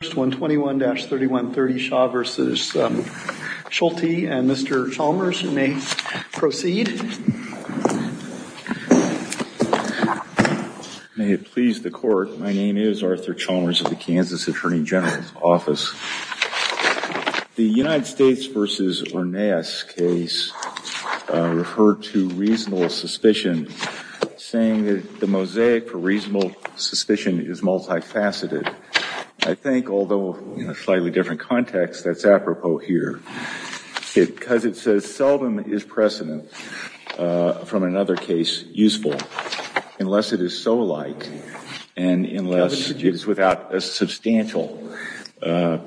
and Mr. Chalmers, you may proceed. May it please the court, my name is Arthur Chalmers of the Kansas Attorney General's Office. The United States v. Orneas case referred to reasonable suspicion, saying that the mosaic for reasonable suspicion is multifaceted. I think, although in a slightly different context, that's apropos here, because it says seldom is precedent from another case useful unless it is so light and unless it is without a substantial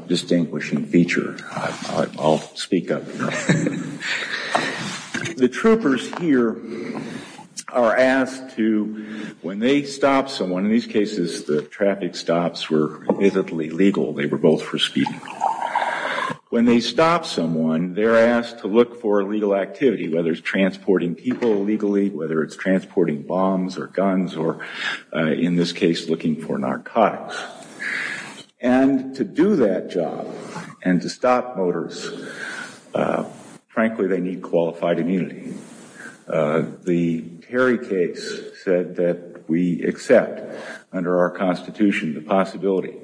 distinguishing feature. I'll speak up. The troopers here are asked to, when they stop someone, and in these cases the traffic stops were visibly legal, they were both for speeding, when they stop someone, they're asked to look for illegal activity, whether it's transporting people illegally, whether it's transporting bombs or guns, or in this case looking for narcotics. And to do that job and to stop motors, frankly, they need qualified immunity. The Terry case said that we accept under our Constitution the possibility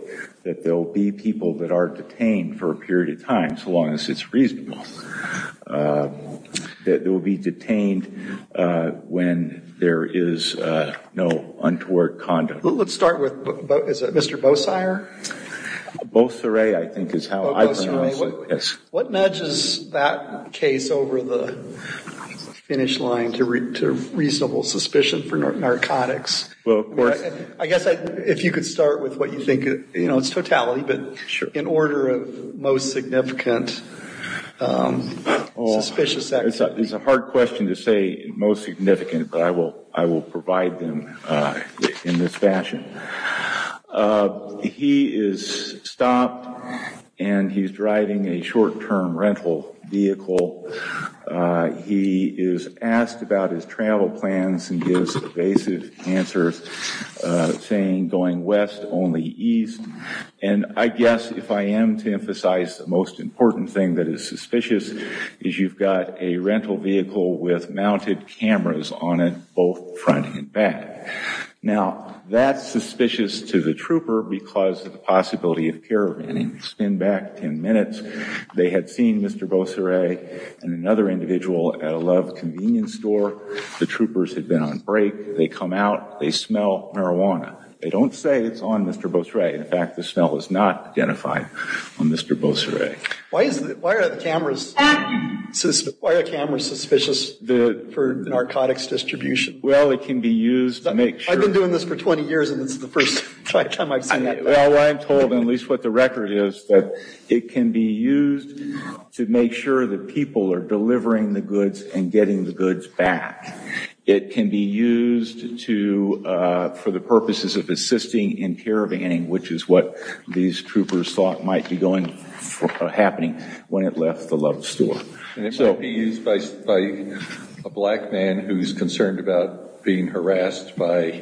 that there will be people that are detained for a period of time, so long as it's reasonable, that they will be detained when there is no untoward conduct. Let's start with Mr. Bosire. Bosire, I think is how I pronounce it. Yes. What nudges that case over the finish line to reasonable suspicion for narcotics? Well, of course. I guess if you could start with what you think, you know, it's totality, but in order of most significant suspicious activity. It's a hard question to say most significant, but I will provide them in this fashion. He is stopped and he's driving a short-term rental vehicle. He is asked about his travel plans and gives evasive answers saying going west, only east. And I guess if I am to emphasize the most important thing that is suspicious is you've got a rental vehicle with mounted cameras on it, both front and back. Now, that's suspicious to the trooper because of the possibility of caravanning. Spin back ten minutes. They had seen Mr. Bosire and another individual at a Love convenience store. The troopers had been on break. They come out. They smell marijuana. They don't say it's on Mr. Bosire. In fact, the smell is not identified on Mr. Bosire. Why are the cameras suspicious for narcotics distribution? Well, it can be used to make sure. I've been doing this for 20 years, and this is the first time I've seen that. Well, I'm told, at least what the record is, that it can be used to make sure that people are delivering the goods and getting the goods back. It can be used for the purposes of assisting in caravanning, which is what these troopers thought might be happening when it left the Love store. And it might be used by a black man who's concerned about being harassed by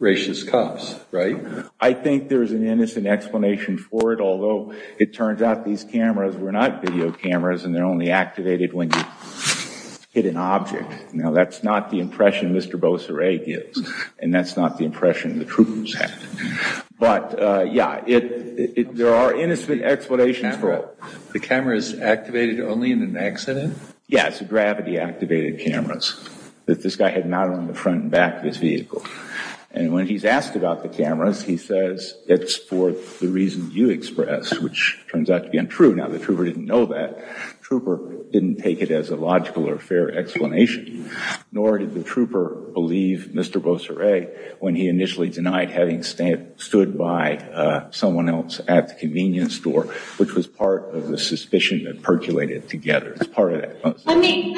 racist cops, right? I think there's an innocent explanation for it, although it turns out these cameras were not video cameras, and they're only activated when you hit an object. Now, that's not the impression Mr. Bosire gives, and that's not the impression the troopers had. But, yeah, there are innocent explanations for it. The cameras activated only in an accident? Yeah, it's gravity-activated cameras that this guy had mounted on the front and back of his vehicle. And when he's asked about the cameras, he says it's for the reason you expressed, which turns out to be untrue. Now, the trooper didn't know that. The trooper didn't take it as a logical or fair explanation, nor did the trooper believe Mr. Bosire when he initially denied having stood by someone else at the convenience store, which was part of the suspicion that percolated together. It's part of that. I mean,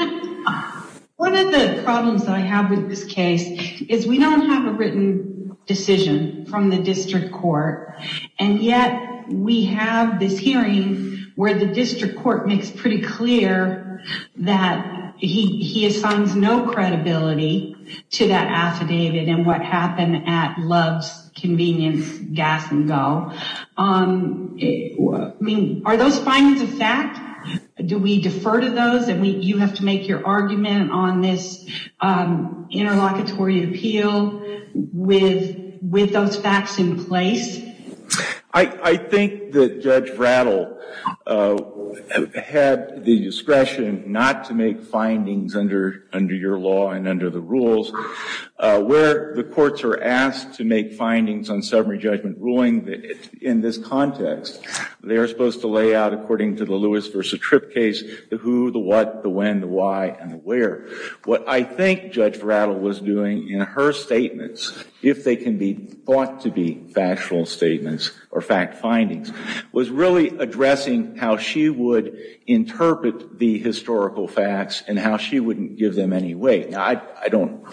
one of the problems that I have with this case is we don't have a written decision from the district court, and yet we have this hearing where the district court makes pretty clear that he assigns no credibility to that affidavit and what happened at Love's Convenience Gas and Go. I mean, are those findings a fact? Do we defer to those? You have to make your argument on this interlocutory appeal with those facts in place? I think that Judge Rattle had the discretion not to make findings under your law and under the rules. Where the courts are asked to make findings on summary judgment ruling in this context, they are supposed to lay out according to the Lewis v. Tripp case the who, the what, the when, the why, and the where. What I think Judge Rattle was doing in her statements, if they can be thought to be factual statements or fact findings, was really addressing how she would interpret the historical facts and how she wouldn't give them any weight. Now, I don't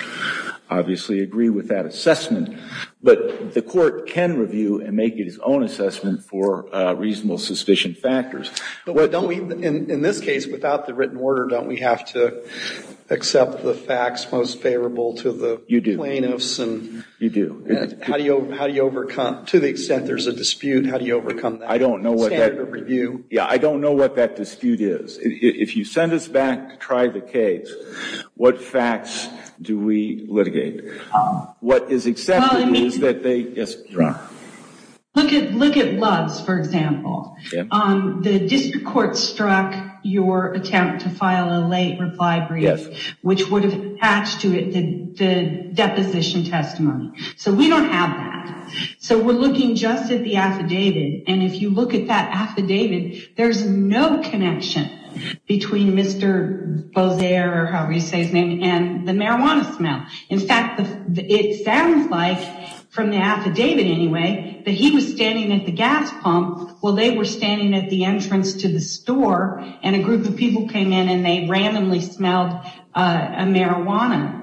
obviously agree with that assessment, but the court can review and make its own assessment for reasonable suspicion factors. In this case, without the written order, don't we have to accept the facts most favorable to the plaintiffs? You do. You do. To the extent there's a dispute, how do you overcome that? I don't know what that dispute is. If you send us back to try the case, what facts do we litigate? What is accepted is that they- Yes, Your Honor. Look at Luggs, for example. The district court struck your attempt to file a late reply brief, which would have attached to it the deposition testimony. So we don't have that. So we're looking just at the affidavit, and if you look at that affidavit, there's no connection between Mr. Bozer, or however you say his name, and the marijuana smell. In fact, it sounds like, from the affidavit anyway, that he was standing at the gas pump while they were standing at the entrance to the store, and a group of people came in and they randomly smelled a marijuana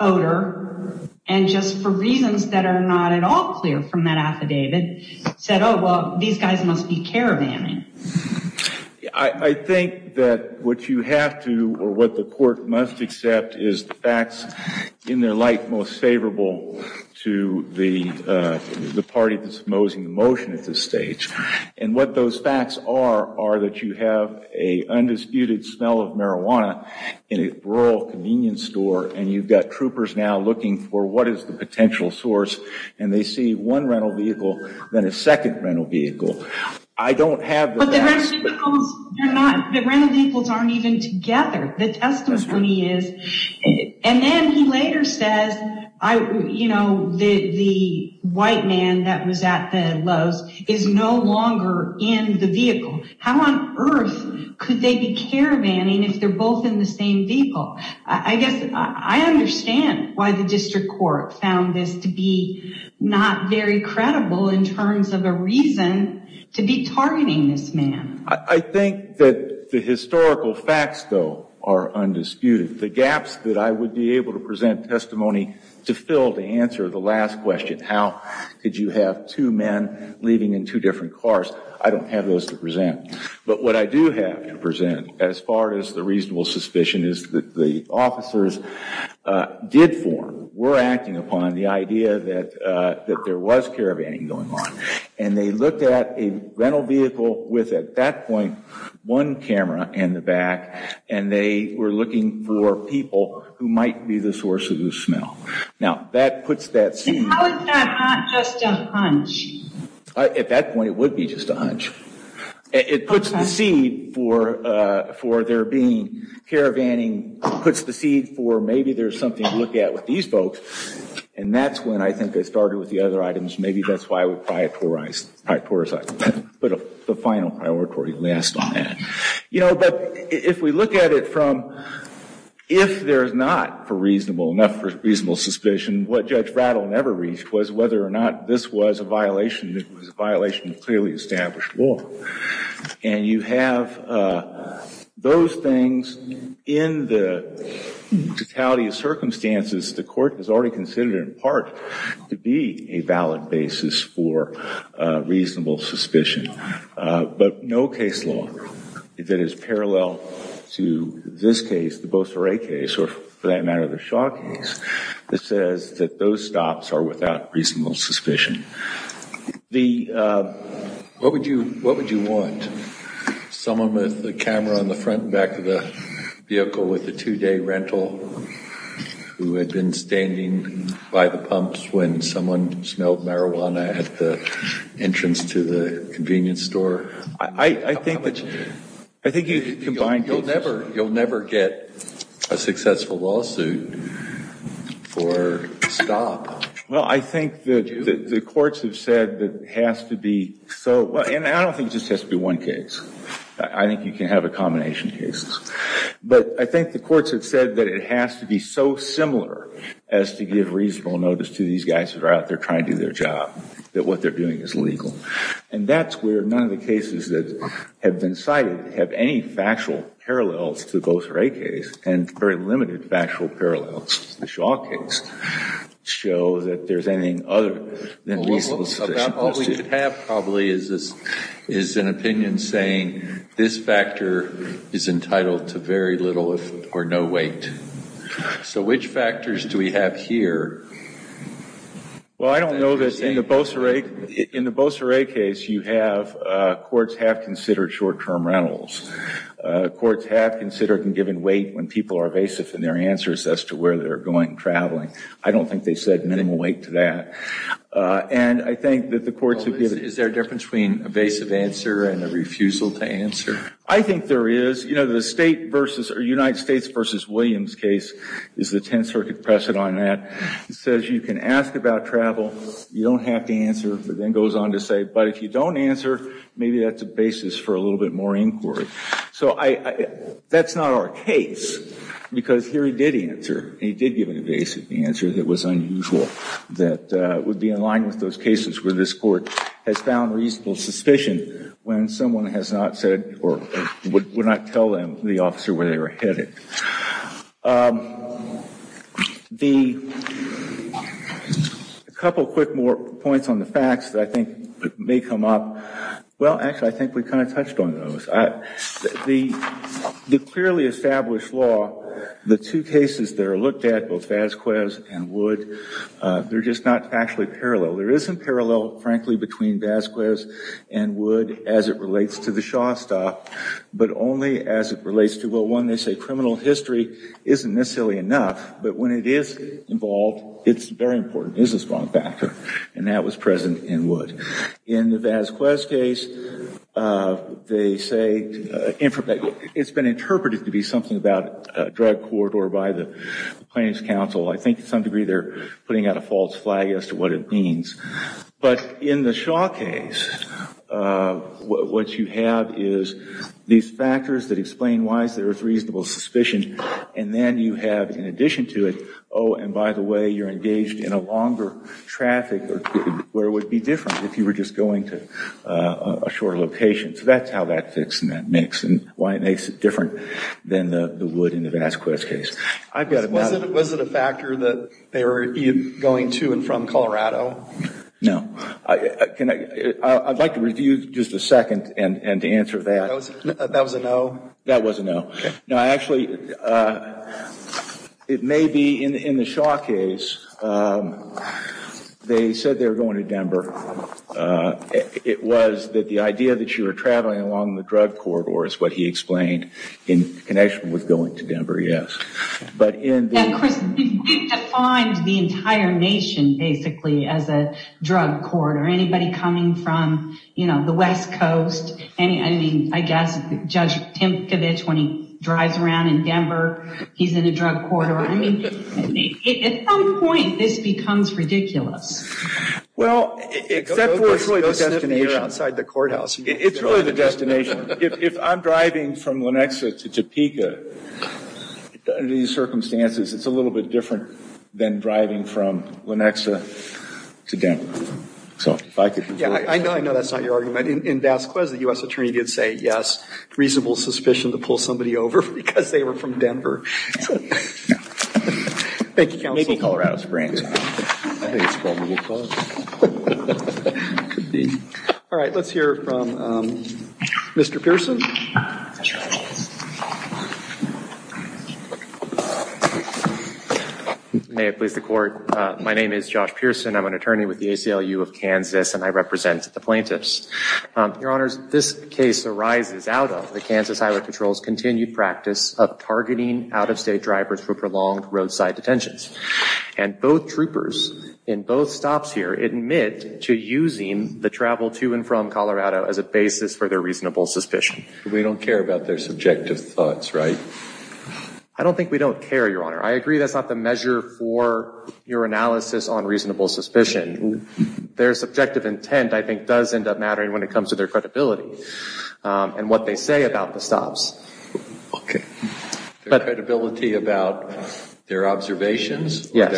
odor, and just for reasons that are not at all clear from that affidavit, said, oh, well, these guys must be caravaning. I think that what you have to, or what the court must accept, is the facts in their light most favorable to the party that's proposing the motion at this stage. And what those facts are, are that you have an undisputed smell of marijuana in a rural convenience store, and you've got troopers now looking for what is the potential source, and they see one rental vehicle, then a second rental vehicle. I don't have the facts. But the rental vehicles aren't even together. The testimony is. And then he later says, you know, the white man that was at the Lowe's is no longer in the vehicle. How on earth could they be caravaning if they're both in the same vehicle? I guess I understand why the district court found this to be not very credible in terms of a reason to be targeting this man. I think that the historical facts, though, are undisputed. The gaps that I would be able to present testimony to fill to answer the last question, how could you have two men leaving in two different cars, I don't have those to present. But what I do have to present as far as the reasonable suspicion is that the officers did form, were acting upon the idea that there was caravaning going on. And they looked at a rental vehicle with, at that point, one camera in the back, and they were looking for people who might be the source of the smell. Now, that puts that scene. How is that not just a hunch? At that point, it would be just a hunch. It puts the seed for there being caravaning, puts the seed for maybe there's something to look at with these folks. And that's when I think they started with the other items. Maybe that's why we prioritized them. Put the final priority last on that. You know, but if we look at it from if there's not enough reasonable suspicion, what Judge Rattle never reached was whether or not this was a violation. It was a violation of clearly established law. And you have those things in the totality of circumstances the court has already considered, in part, to be a valid basis for reasonable suspicion. But no case law that is parallel to this case, or for that matter, the Shaw case, that says that those stops are without reasonable suspicion. What would you want? Someone with a camera on the front and back of the vehicle with a two-day rental who had been standing by the pumps when someone smelled marijuana at the entrance to the convenience store? I think you combine both. You'll never get a successful lawsuit for stop. Well, I think the courts have said that it has to be so. And I don't think it just has to be one case. I think you can have a combination of cases. But I think the courts have said that it has to be so similar as to give reasonable notice to these guys who are out there trying to do their job, that what they're doing is legal. And that's where none of the cases that have been cited have any factual parallels to the Beauserate case and very limited factual parallels to the Shaw case show that there's anything other than reasonable suspicion. All we have probably is an opinion saying this factor is entitled to very little or no weight. So which factors do we have here? Well, I don't know this. In the Beauserate case, courts have considered short-term rentals. Courts have considered and given weight when people are evasive in their answers as to where they're going and traveling. I don't think they said minimal weight to that. And I think that the courts have given weight. Is there a difference between an evasive answer and a refusal to answer? I think there is. You know, the United States v. Williams case is the Tenth Circuit precedent on that. It says you can ask about travel, you don't have to answer, but then goes on to say, but if you don't answer, maybe that's a basis for a little bit more inquiry. So that's not our case because here he did answer. He did give an evasive answer that was unusual that would be in line with those cases where this court has found reasonable suspicion when someone has not said or would not tell them, the officer, where they were headed. A couple quick more points on the facts that I think may come up. Well, actually, I think we kind of touched on those. The clearly established law, the two cases that are looked at, both Vazquez and Wood, they're just not factually parallel. There isn't parallel, frankly, between Vazquez and Wood as it relates to the Shaw style, but only as it relates to, well, one, they say criminal history isn't necessarily enough, but when it is involved, it's very important. It is a strong factor, and that was present in Wood. In the Vazquez case, they say it's been interpreted to be something about a drug court or by the Plaintiff's counsel. I think to some degree they're putting out a false flag as to what it means. But in the Shaw case, what you have is these factors that explain why there is reasonable suspicion, and then you have, in addition to it, oh, and by the way, you're engaged in a longer traffic, where it would be different if you were just going to a shorter location. So that's how that fits and that makes it different than the Wood and the Vazquez case. Was it a factor that they were going to and from Colorado? No. I'd like to review just a second and to answer that. That was a no? That was a no. No, actually, it may be in the Shaw case, they said they were going to Denver. It was that the idea that you were traveling along the drug corridor is what he explained in connection with going to Denver, yes. Now, Chris, we've defined the entire nation, basically, as a drug corridor. Anybody coming from the West Coast, I mean, I guess Judge Timkovich, when he drives around in Denver, he's in a drug corridor. I mean, at some point this becomes ridiculous. Well, except for it's really the destination. Go sniff in here outside the courthouse. It's really the destination. If I'm driving from Lenexa to Topeka, under these circumstances, it's a little bit different than driving from Lenexa to Denver. Yeah, I know that's not your argument. In Vazquez, the U.S. Attorney did say, yes, reasonable suspicion to pull somebody over because they were from Denver. Thank you, counsel. Maybe Colorado Springs. I think it's probable cause. It could be. All right, let's hear from Mr. Pearson. May it please the Court. My name is Josh Pearson. I'm an attorney with the ACLU of Kansas, and I represent the plaintiffs. Your Honors, this case arises out of the Kansas Highway Patrol's continued practice of targeting out-of-state drivers for prolonged roadside detentions. And both troopers in both stops here admit to using the travel to and from Colorado as a basis for their reasonable suspicion. We don't care about their subjective thoughts, right? I don't think we don't care, Your Honor. I agree that's not the measure for your analysis on reasonable suspicion. Their subjective intent, I think, does end up mattering when it comes to their credibility and what they say about the stops. Credibility about their observations? Yes.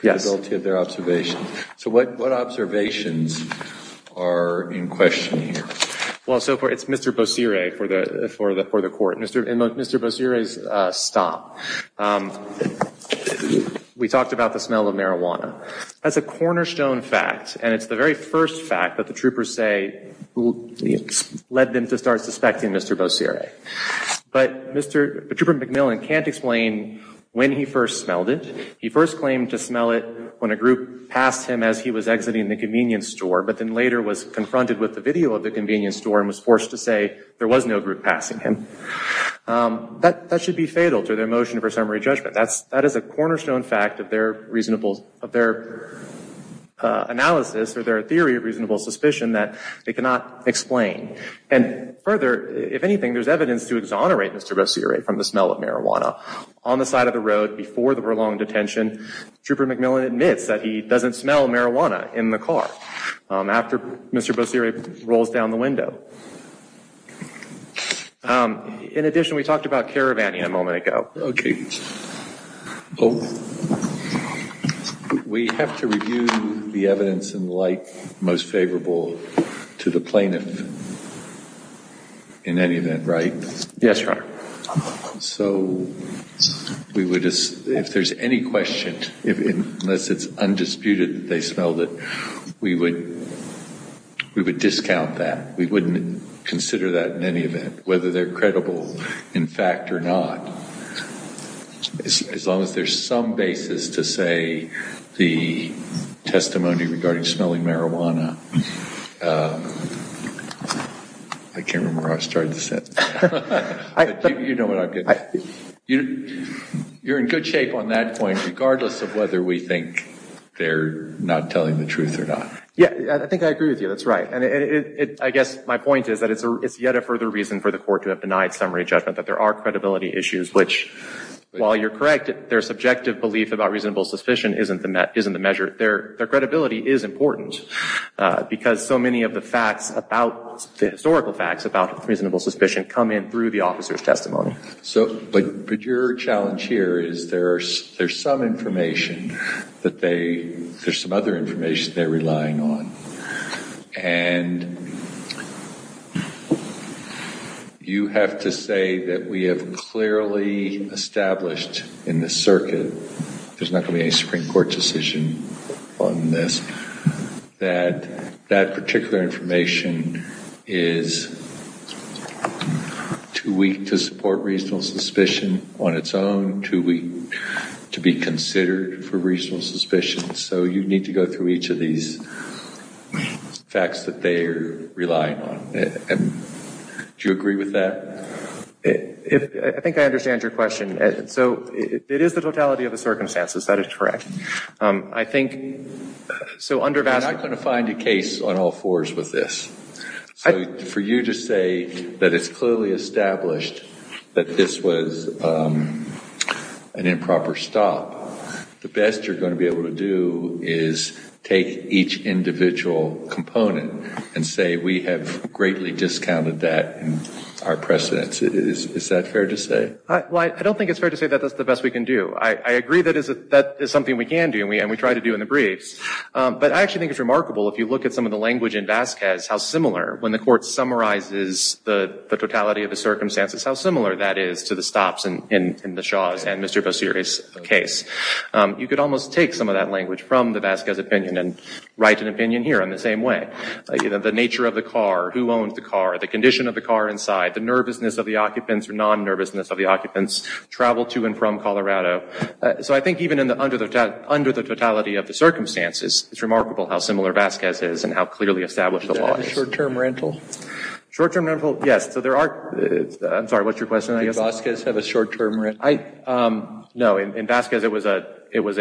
Credibility of their observations. So what observations are in question here? Well, so it's Mr. Bossiere for the Court. In Mr. Bossiere's stop, we talked about the smell of marijuana. That's a cornerstone fact, and it's the very first fact that the troopers say led them to start suspecting Mr. Bossiere. But Trooper McMillan can't explain when he first smelled it. He first claimed to smell it when a group passed him as he was exiting the convenience store, but then later was confronted with the video of the convenience store and was forced to say there was no group passing him. That should be fatal to their motion for summary judgment. That is a cornerstone fact of their analysis or their theory of reasonable suspicion that they cannot explain. And further, if anything, there's evidence to exonerate Mr. Bossiere from the smell of marijuana. On the side of the road before the prolonged detention, Trooper McMillan admits that he doesn't smell marijuana in the car after Mr. Bossiere rolls down the window. In addition, we talked about caravanning a moment ago. Okay. We have to review the evidence and the like most favorable to the plaintiff in any event, right? Yes, Your Honor. So if there's any question, unless it's undisputed that they smelled it, we would discount that. We wouldn't consider that in any event, whether they're credible in fact or not. As long as there's some basis to say the testimony regarding smelling marijuana, I can't remember where I started the sentence. You know what I'm getting at. You're in good shape on that point regardless of whether we think they're not telling the truth or not. Yeah, I think I agree with you. That's right. And I guess my point is that it's yet a further reason for the court to have denied summary judgment, that there are credibility issues, which while you're correct, their subjective belief about reasonable suspicion isn't the measure. Their credibility is important because so many of the facts, But your challenge here is there's some information that they, there's some other information they're relying on. And you have to say that we have clearly established in the circuit, there's not going to be any Supreme Court decision on this, that that particular information is too weak to support reasonable suspicion on its own, too weak to be considered for reasonable suspicion. So you need to go through each of these facts that they're relying on. Do you agree with that? I think I understand your question. So it is the totality of the circumstances. That is correct. I think, so under vast You're not going to find a case on all fours with this. So for you to say that it's clearly established that this was an improper stop, the best you're going to be able to do is take each individual component and say we have greatly discounted that in our precedence. Is that fair to say? Well, I don't think it's fair to say that that's the best we can do. I agree that that is something we can do and we try to do in the briefs. But I actually think it's remarkable, if you look at some of the language in Vasquez, how similar, when the court summarizes the totality of the circumstances, how similar that is to the stops in the Shaw's and Mr. Bosiris' case. You could almost take some of that language from the Vasquez opinion and write an opinion here in the same way. The nature of the car, who owns the car, the condition of the car inside, the nervousness of the occupants or non-nervousness of the occupants, travel to and from Colorado. So I think even under the totality of the circumstances, it's remarkable how similar Vasquez is and how clearly established the law is. Is that a short-term rental? Short-term rental, yes. I'm sorry, what's your question? Did Vasquez have a short-term rental? No. In Vasquez, he was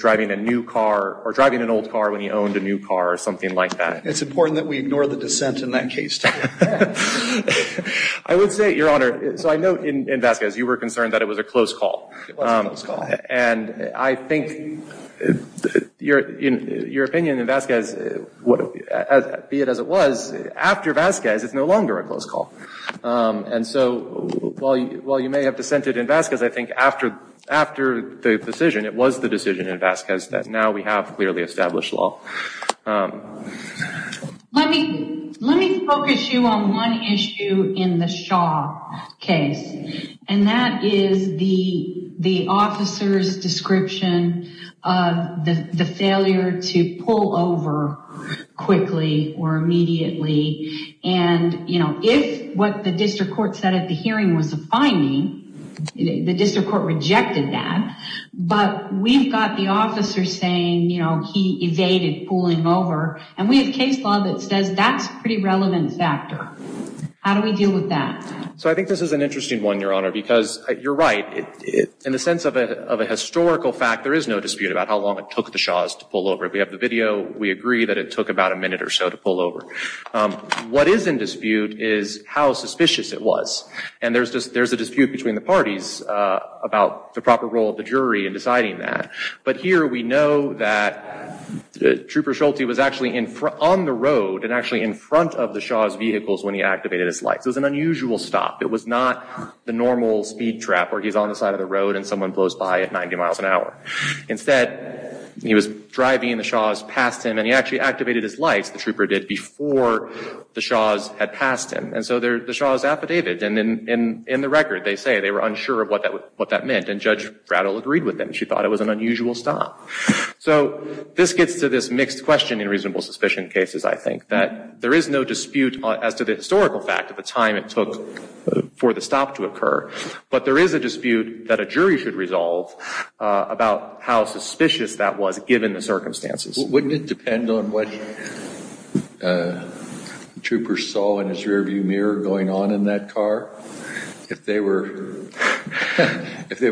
driving a new car or driving an old car when he owned a new car or something like that. It's important that we ignore the dissent in that case, too. I would say, Your Honor, so I know in Vasquez, you were concerned that it was a close call. It was a close call. And I think your opinion in Vasquez, be it as it was, after Vasquez, it's no longer a close call. And so while you may have dissented in Vasquez, I think after the decision, it was the decision in Vasquez that now we have clearly established law. Let me focus you on one issue in the Shaw case, and that is the officer's description of the failure to pull over quickly or immediately. And, you know, if what the district court said at the hearing was a finding, the district court rejected that. But we've got the officer saying, you know, he evaded pulling over. And we have case law that says that's a pretty relevant factor. How do we deal with that? So I think this is an interesting one, Your Honor, because you're right. In the sense of a historical fact, there is no dispute about how long it took the Shaws to pull over. We have the video. We agree that it took about a minute or so to pull over. What is in dispute is how suspicious it was. And there's a dispute between the parties about the proper role of the jury in deciding that. But here we know that Trooper Schulte was actually on the road and actually in front of the Shaws' vehicles when he activated his lights. It was an unusual stop. It was not the normal speed trap where he's on the side of the road and someone blows by at 90 miles an hour. Instead, he was driving the Shaws past him, and he actually activated his lights, the Trooper did, before the Shaws had passed him. And so the Shaws affidavit, and in the record, they say they were unsure of what that meant, and Judge Rattle agreed with them. She thought it was an unusual stop. So this gets to this mixed question in reasonable suspicion cases, I think, that there is no dispute as to the historical fact of the time it took for the stop to occur, but there is a dispute that a jury should resolve about how suspicious that was given the circumstances. Wouldn't it depend on what Trooper saw in his rearview mirror going on in that car? If they were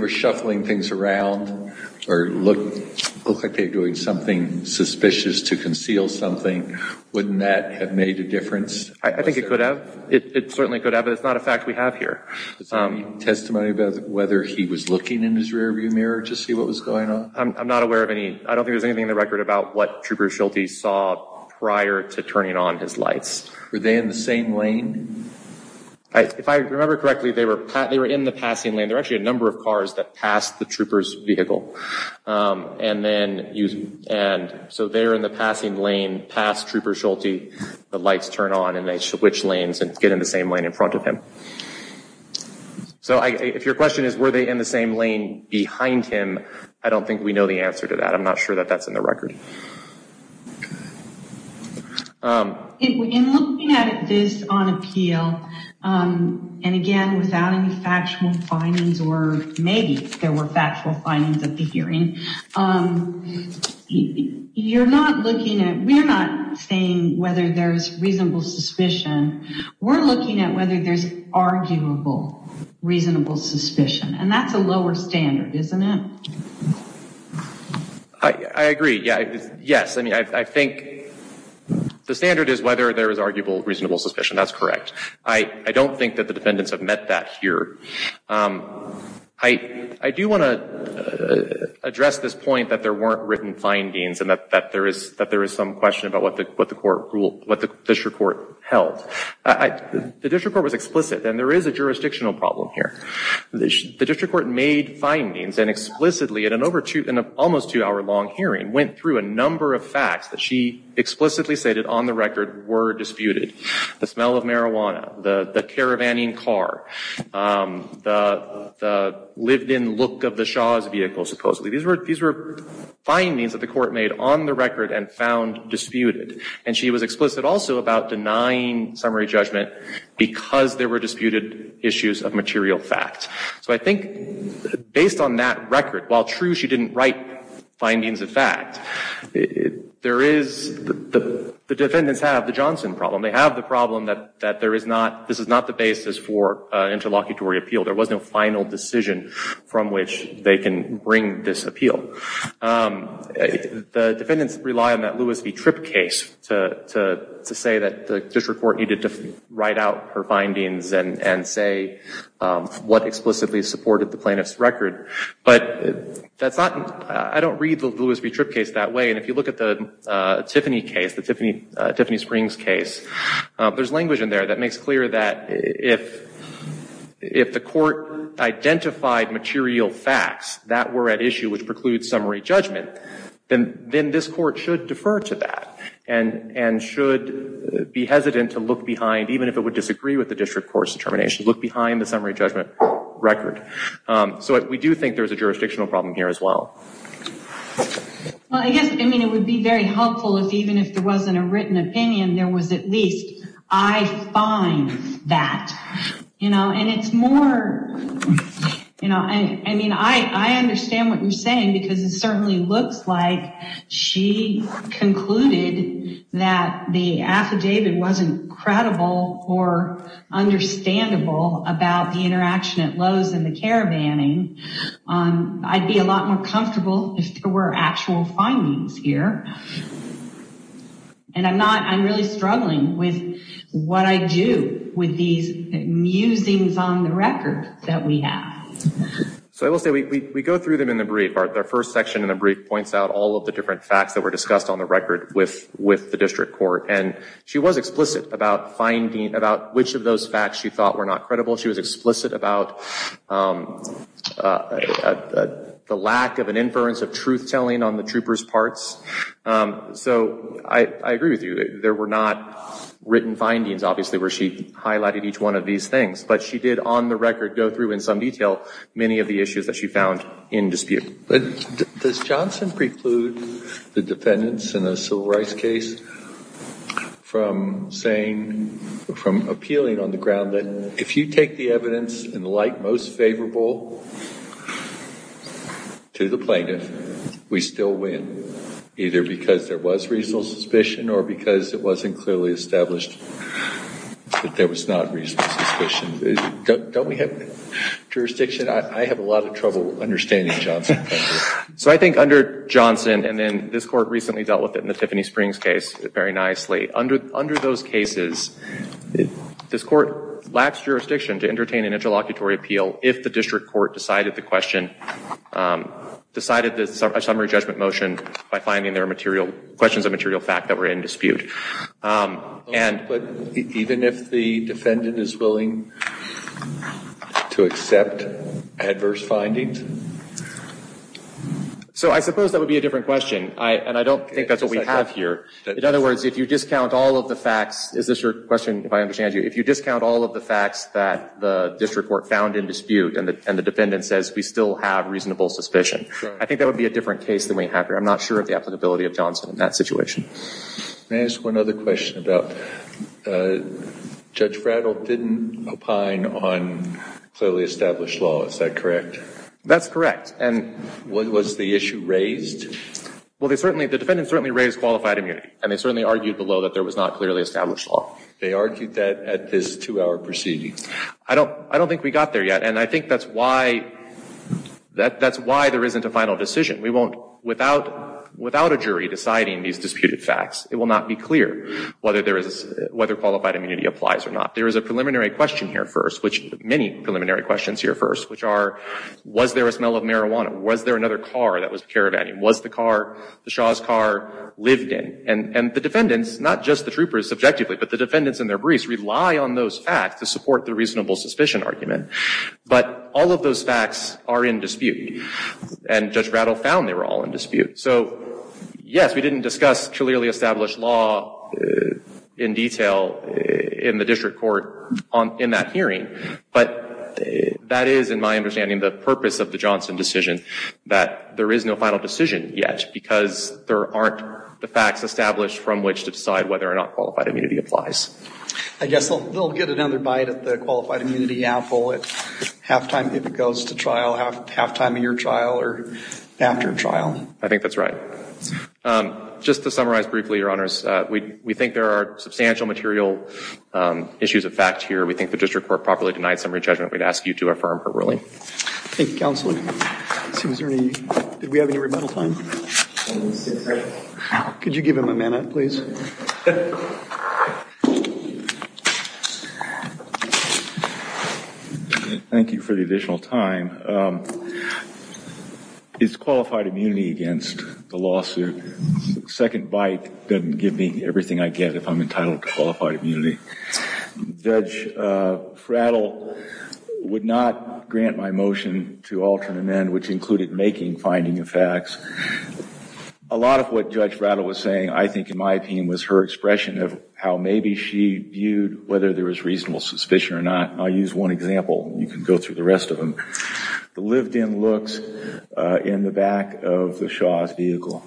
shuffling things around or looked like they were doing something suspicious to conceal something, wouldn't that have made a difference? I think it could have. It certainly could have, but it's not a fact we have here. Testimony about whether he was looking in his rearview mirror to see what was going on? I'm not aware of any. I don't think there's anything in the record about what Trooper Schulte saw prior to turning on his lights. Were they in the same lane? If I remember correctly, they were in the passing lane. There were actually a number of cars that passed the Trooper's vehicle, and so they're in the passing lane past Trooper Schulte. The lights turn on, and they switch lanes and get in the same lane in front of him. So if your question is were they in the same lane behind him, I don't think we know the answer to that. I'm not sure that that's in the record. In looking at this on appeal, and, again, without any factual findings or maybe there were factual findings at the hearing, you're not looking at we're not saying whether there's reasonable suspicion. We're looking at whether there's arguable reasonable suspicion, and that's a lower standard, isn't it? I agree. Yes. I think the standard is whether there is arguable reasonable suspicion. That's correct. I don't think that the defendants have met that here. I do want to address this point that there weren't written findings and that there is some question about what the district court held. The district court was explicit, and there is a jurisdictional problem here. The district court made findings and explicitly, in an almost two-hour long hearing, went through a number of facts that she explicitly stated on the record were disputed. The smell of marijuana, the caravanning car, the lived-in look of the Shaw's vehicle, supposedly. These were findings that the court made on the record and found disputed, and she was explicit also about denying summary judgment because there were disputed issues of material fact. So I think based on that record, while true she didn't write findings of fact, the defendants have the Johnson problem. They have the problem that this is not the basis for interlocutory appeal. There was no final decision from which they can bring this appeal. The defendants rely on that Lewis v. Tripp case to say that the district court needed to write out her findings and say what explicitly supported the plaintiff's record. But that's not, I don't read the Lewis v. Tripp case that way, and if you look at the Tiffany case, the Tiffany Springs case, there's language in there that makes clear that if the court identified material facts that were at issue which precludes summary judgment, then this court should defer to that and should be hesitant to look behind, even if it would disagree with the district court's determination, look behind the summary judgment record. So we do think there's a jurisdictional problem here as well. Well, I guess, I mean, it would be very helpful if even if there wasn't a written opinion, there was at least, I find that. And it's more, I mean, I understand what you're saying, because it certainly looks like she concluded that the affidavit wasn't credible or understandable about the interaction at Lowe's and the caravanning. I'd be a lot more comfortable if there were actual findings here. And I'm not, I'm really struggling with what I do with these musings on the record that we have. So I will say, we go through them in the brief. Our first section in the brief points out all of the different facts that were discussed on the record with the district court, and she was explicit about finding, about which of those facts she thought were not credible. She was explicit about the lack of an inference of truth-telling on the troopers' parts. So I agree with you. There were not written findings, obviously, where she highlighted each one of these things, but she did on the record go through in some detail many of the issues that she found in dispute. Does Johnson preclude the defendants in the civil rights case from saying, from appealing on the ground that if you take the evidence in the light most favorable to the plaintiff, we still win, either because there was reasonable suspicion or because it wasn't clearly established that there was not reasonable suspicion? Don't we have jurisdiction? I have a lot of trouble understanding Johnson. So I think under Johnson, and then this Court recently dealt with it in the Tiffany Springs case very nicely, under those cases, this Court lacks jurisdiction to entertain an interlocutory appeal if the district court decided the summary judgment motion by finding there are questions of material fact that were in dispute. But even if the defendant is willing to accept adverse findings? So I suppose that would be a different question, and I don't think that's what we have here. In other words, if you discount all of the facts, is this your question, if I understand you? If you discount all of the facts that the district court found in dispute and the defendant says we still have reasonable suspicion, I think that would be a different case than we have here. I'm not sure of the applicability of Johnson in that situation. May I ask one other question about Judge Fradel didn't opine on clearly established law. Is that correct? That's correct. Was the issue raised? Well, the defendant certainly raised qualified immunity, and they certainly argued below that there was not clearly established law. They argued that at this two-hour proceeding? I don't think we got there yet, and I think that's why there isn't a final decision. Without a jury deciding these disputed facts, it will not be clear whether qualified immunity applies or not. There is a preliminary question here first, many preliminary questions here first, which are was there a smell of marijuana? Was there another car that was caravanning? Was the car, the Shaw's car, lived in? And the defendants, not just the troopers subjectively, but the defendants and their briefs rely on those facts to support the reasonable suspicion argument. But all of those facts are in dispute, and Judge Fradel found they were all in dispute. So, yes, we didn't discuss clearly established law in detail in the district court in that hearing, but that is, in my understanding, the purpose of the Johnson decision, that there is no final decision yet because there aren't the facts established from which to decide whether or not qualified immunity applies. I guess they'll get another bite of the qualified immunity apple at halftime, if it goes to trial, halftime of your trial or after trial. I think that's right. Just to summarize briefly, Your Honors, we think there are substantial material issues of fact here. We think the district court properly denied summary judgment. We'd ask you to affirm her ruling. Thank you, Counselor. Did we have any rebuttal time? Could you give him a minute, please? Thank you for the additional time. Is qualified immunity against the lawsuit? Second bite doesn't give me everything I get if I'm entitled to qualified immunity. Judge Frattle would not grant my motion to alter an end, which included making finding of facts. A lot of what Judge Frattle was saying, I think, in my opinion, was her expression of how maybe she viewed whether there was reasonable suspicion or not. I'll use one example. You can go through the rest of them. The lived-in looks in the back of the Shaw's vehicle.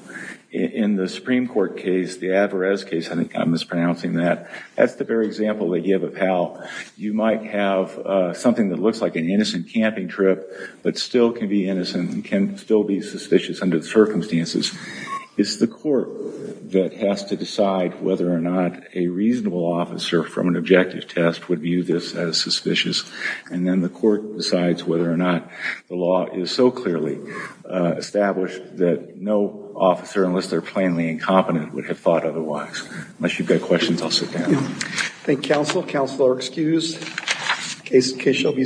In the Supreme Court case, the Averez case, I think I'm mispronouncing that, that's the very example that you have of how you might have something that looks like an innocent camping trip but still can be innocent and can still be suspicious under the circumstances. It's the court that has to decide whether or not a reasonable officer from an objective test would view this as suspicious, and then the court decides whether or not the law is so clearly established that no officer, unless they're plainly incompetent, would have thought otherwise. Unless you've got questions, I'll sit down. Thank you, counsel. Counsel are excused. Case shall be submitted.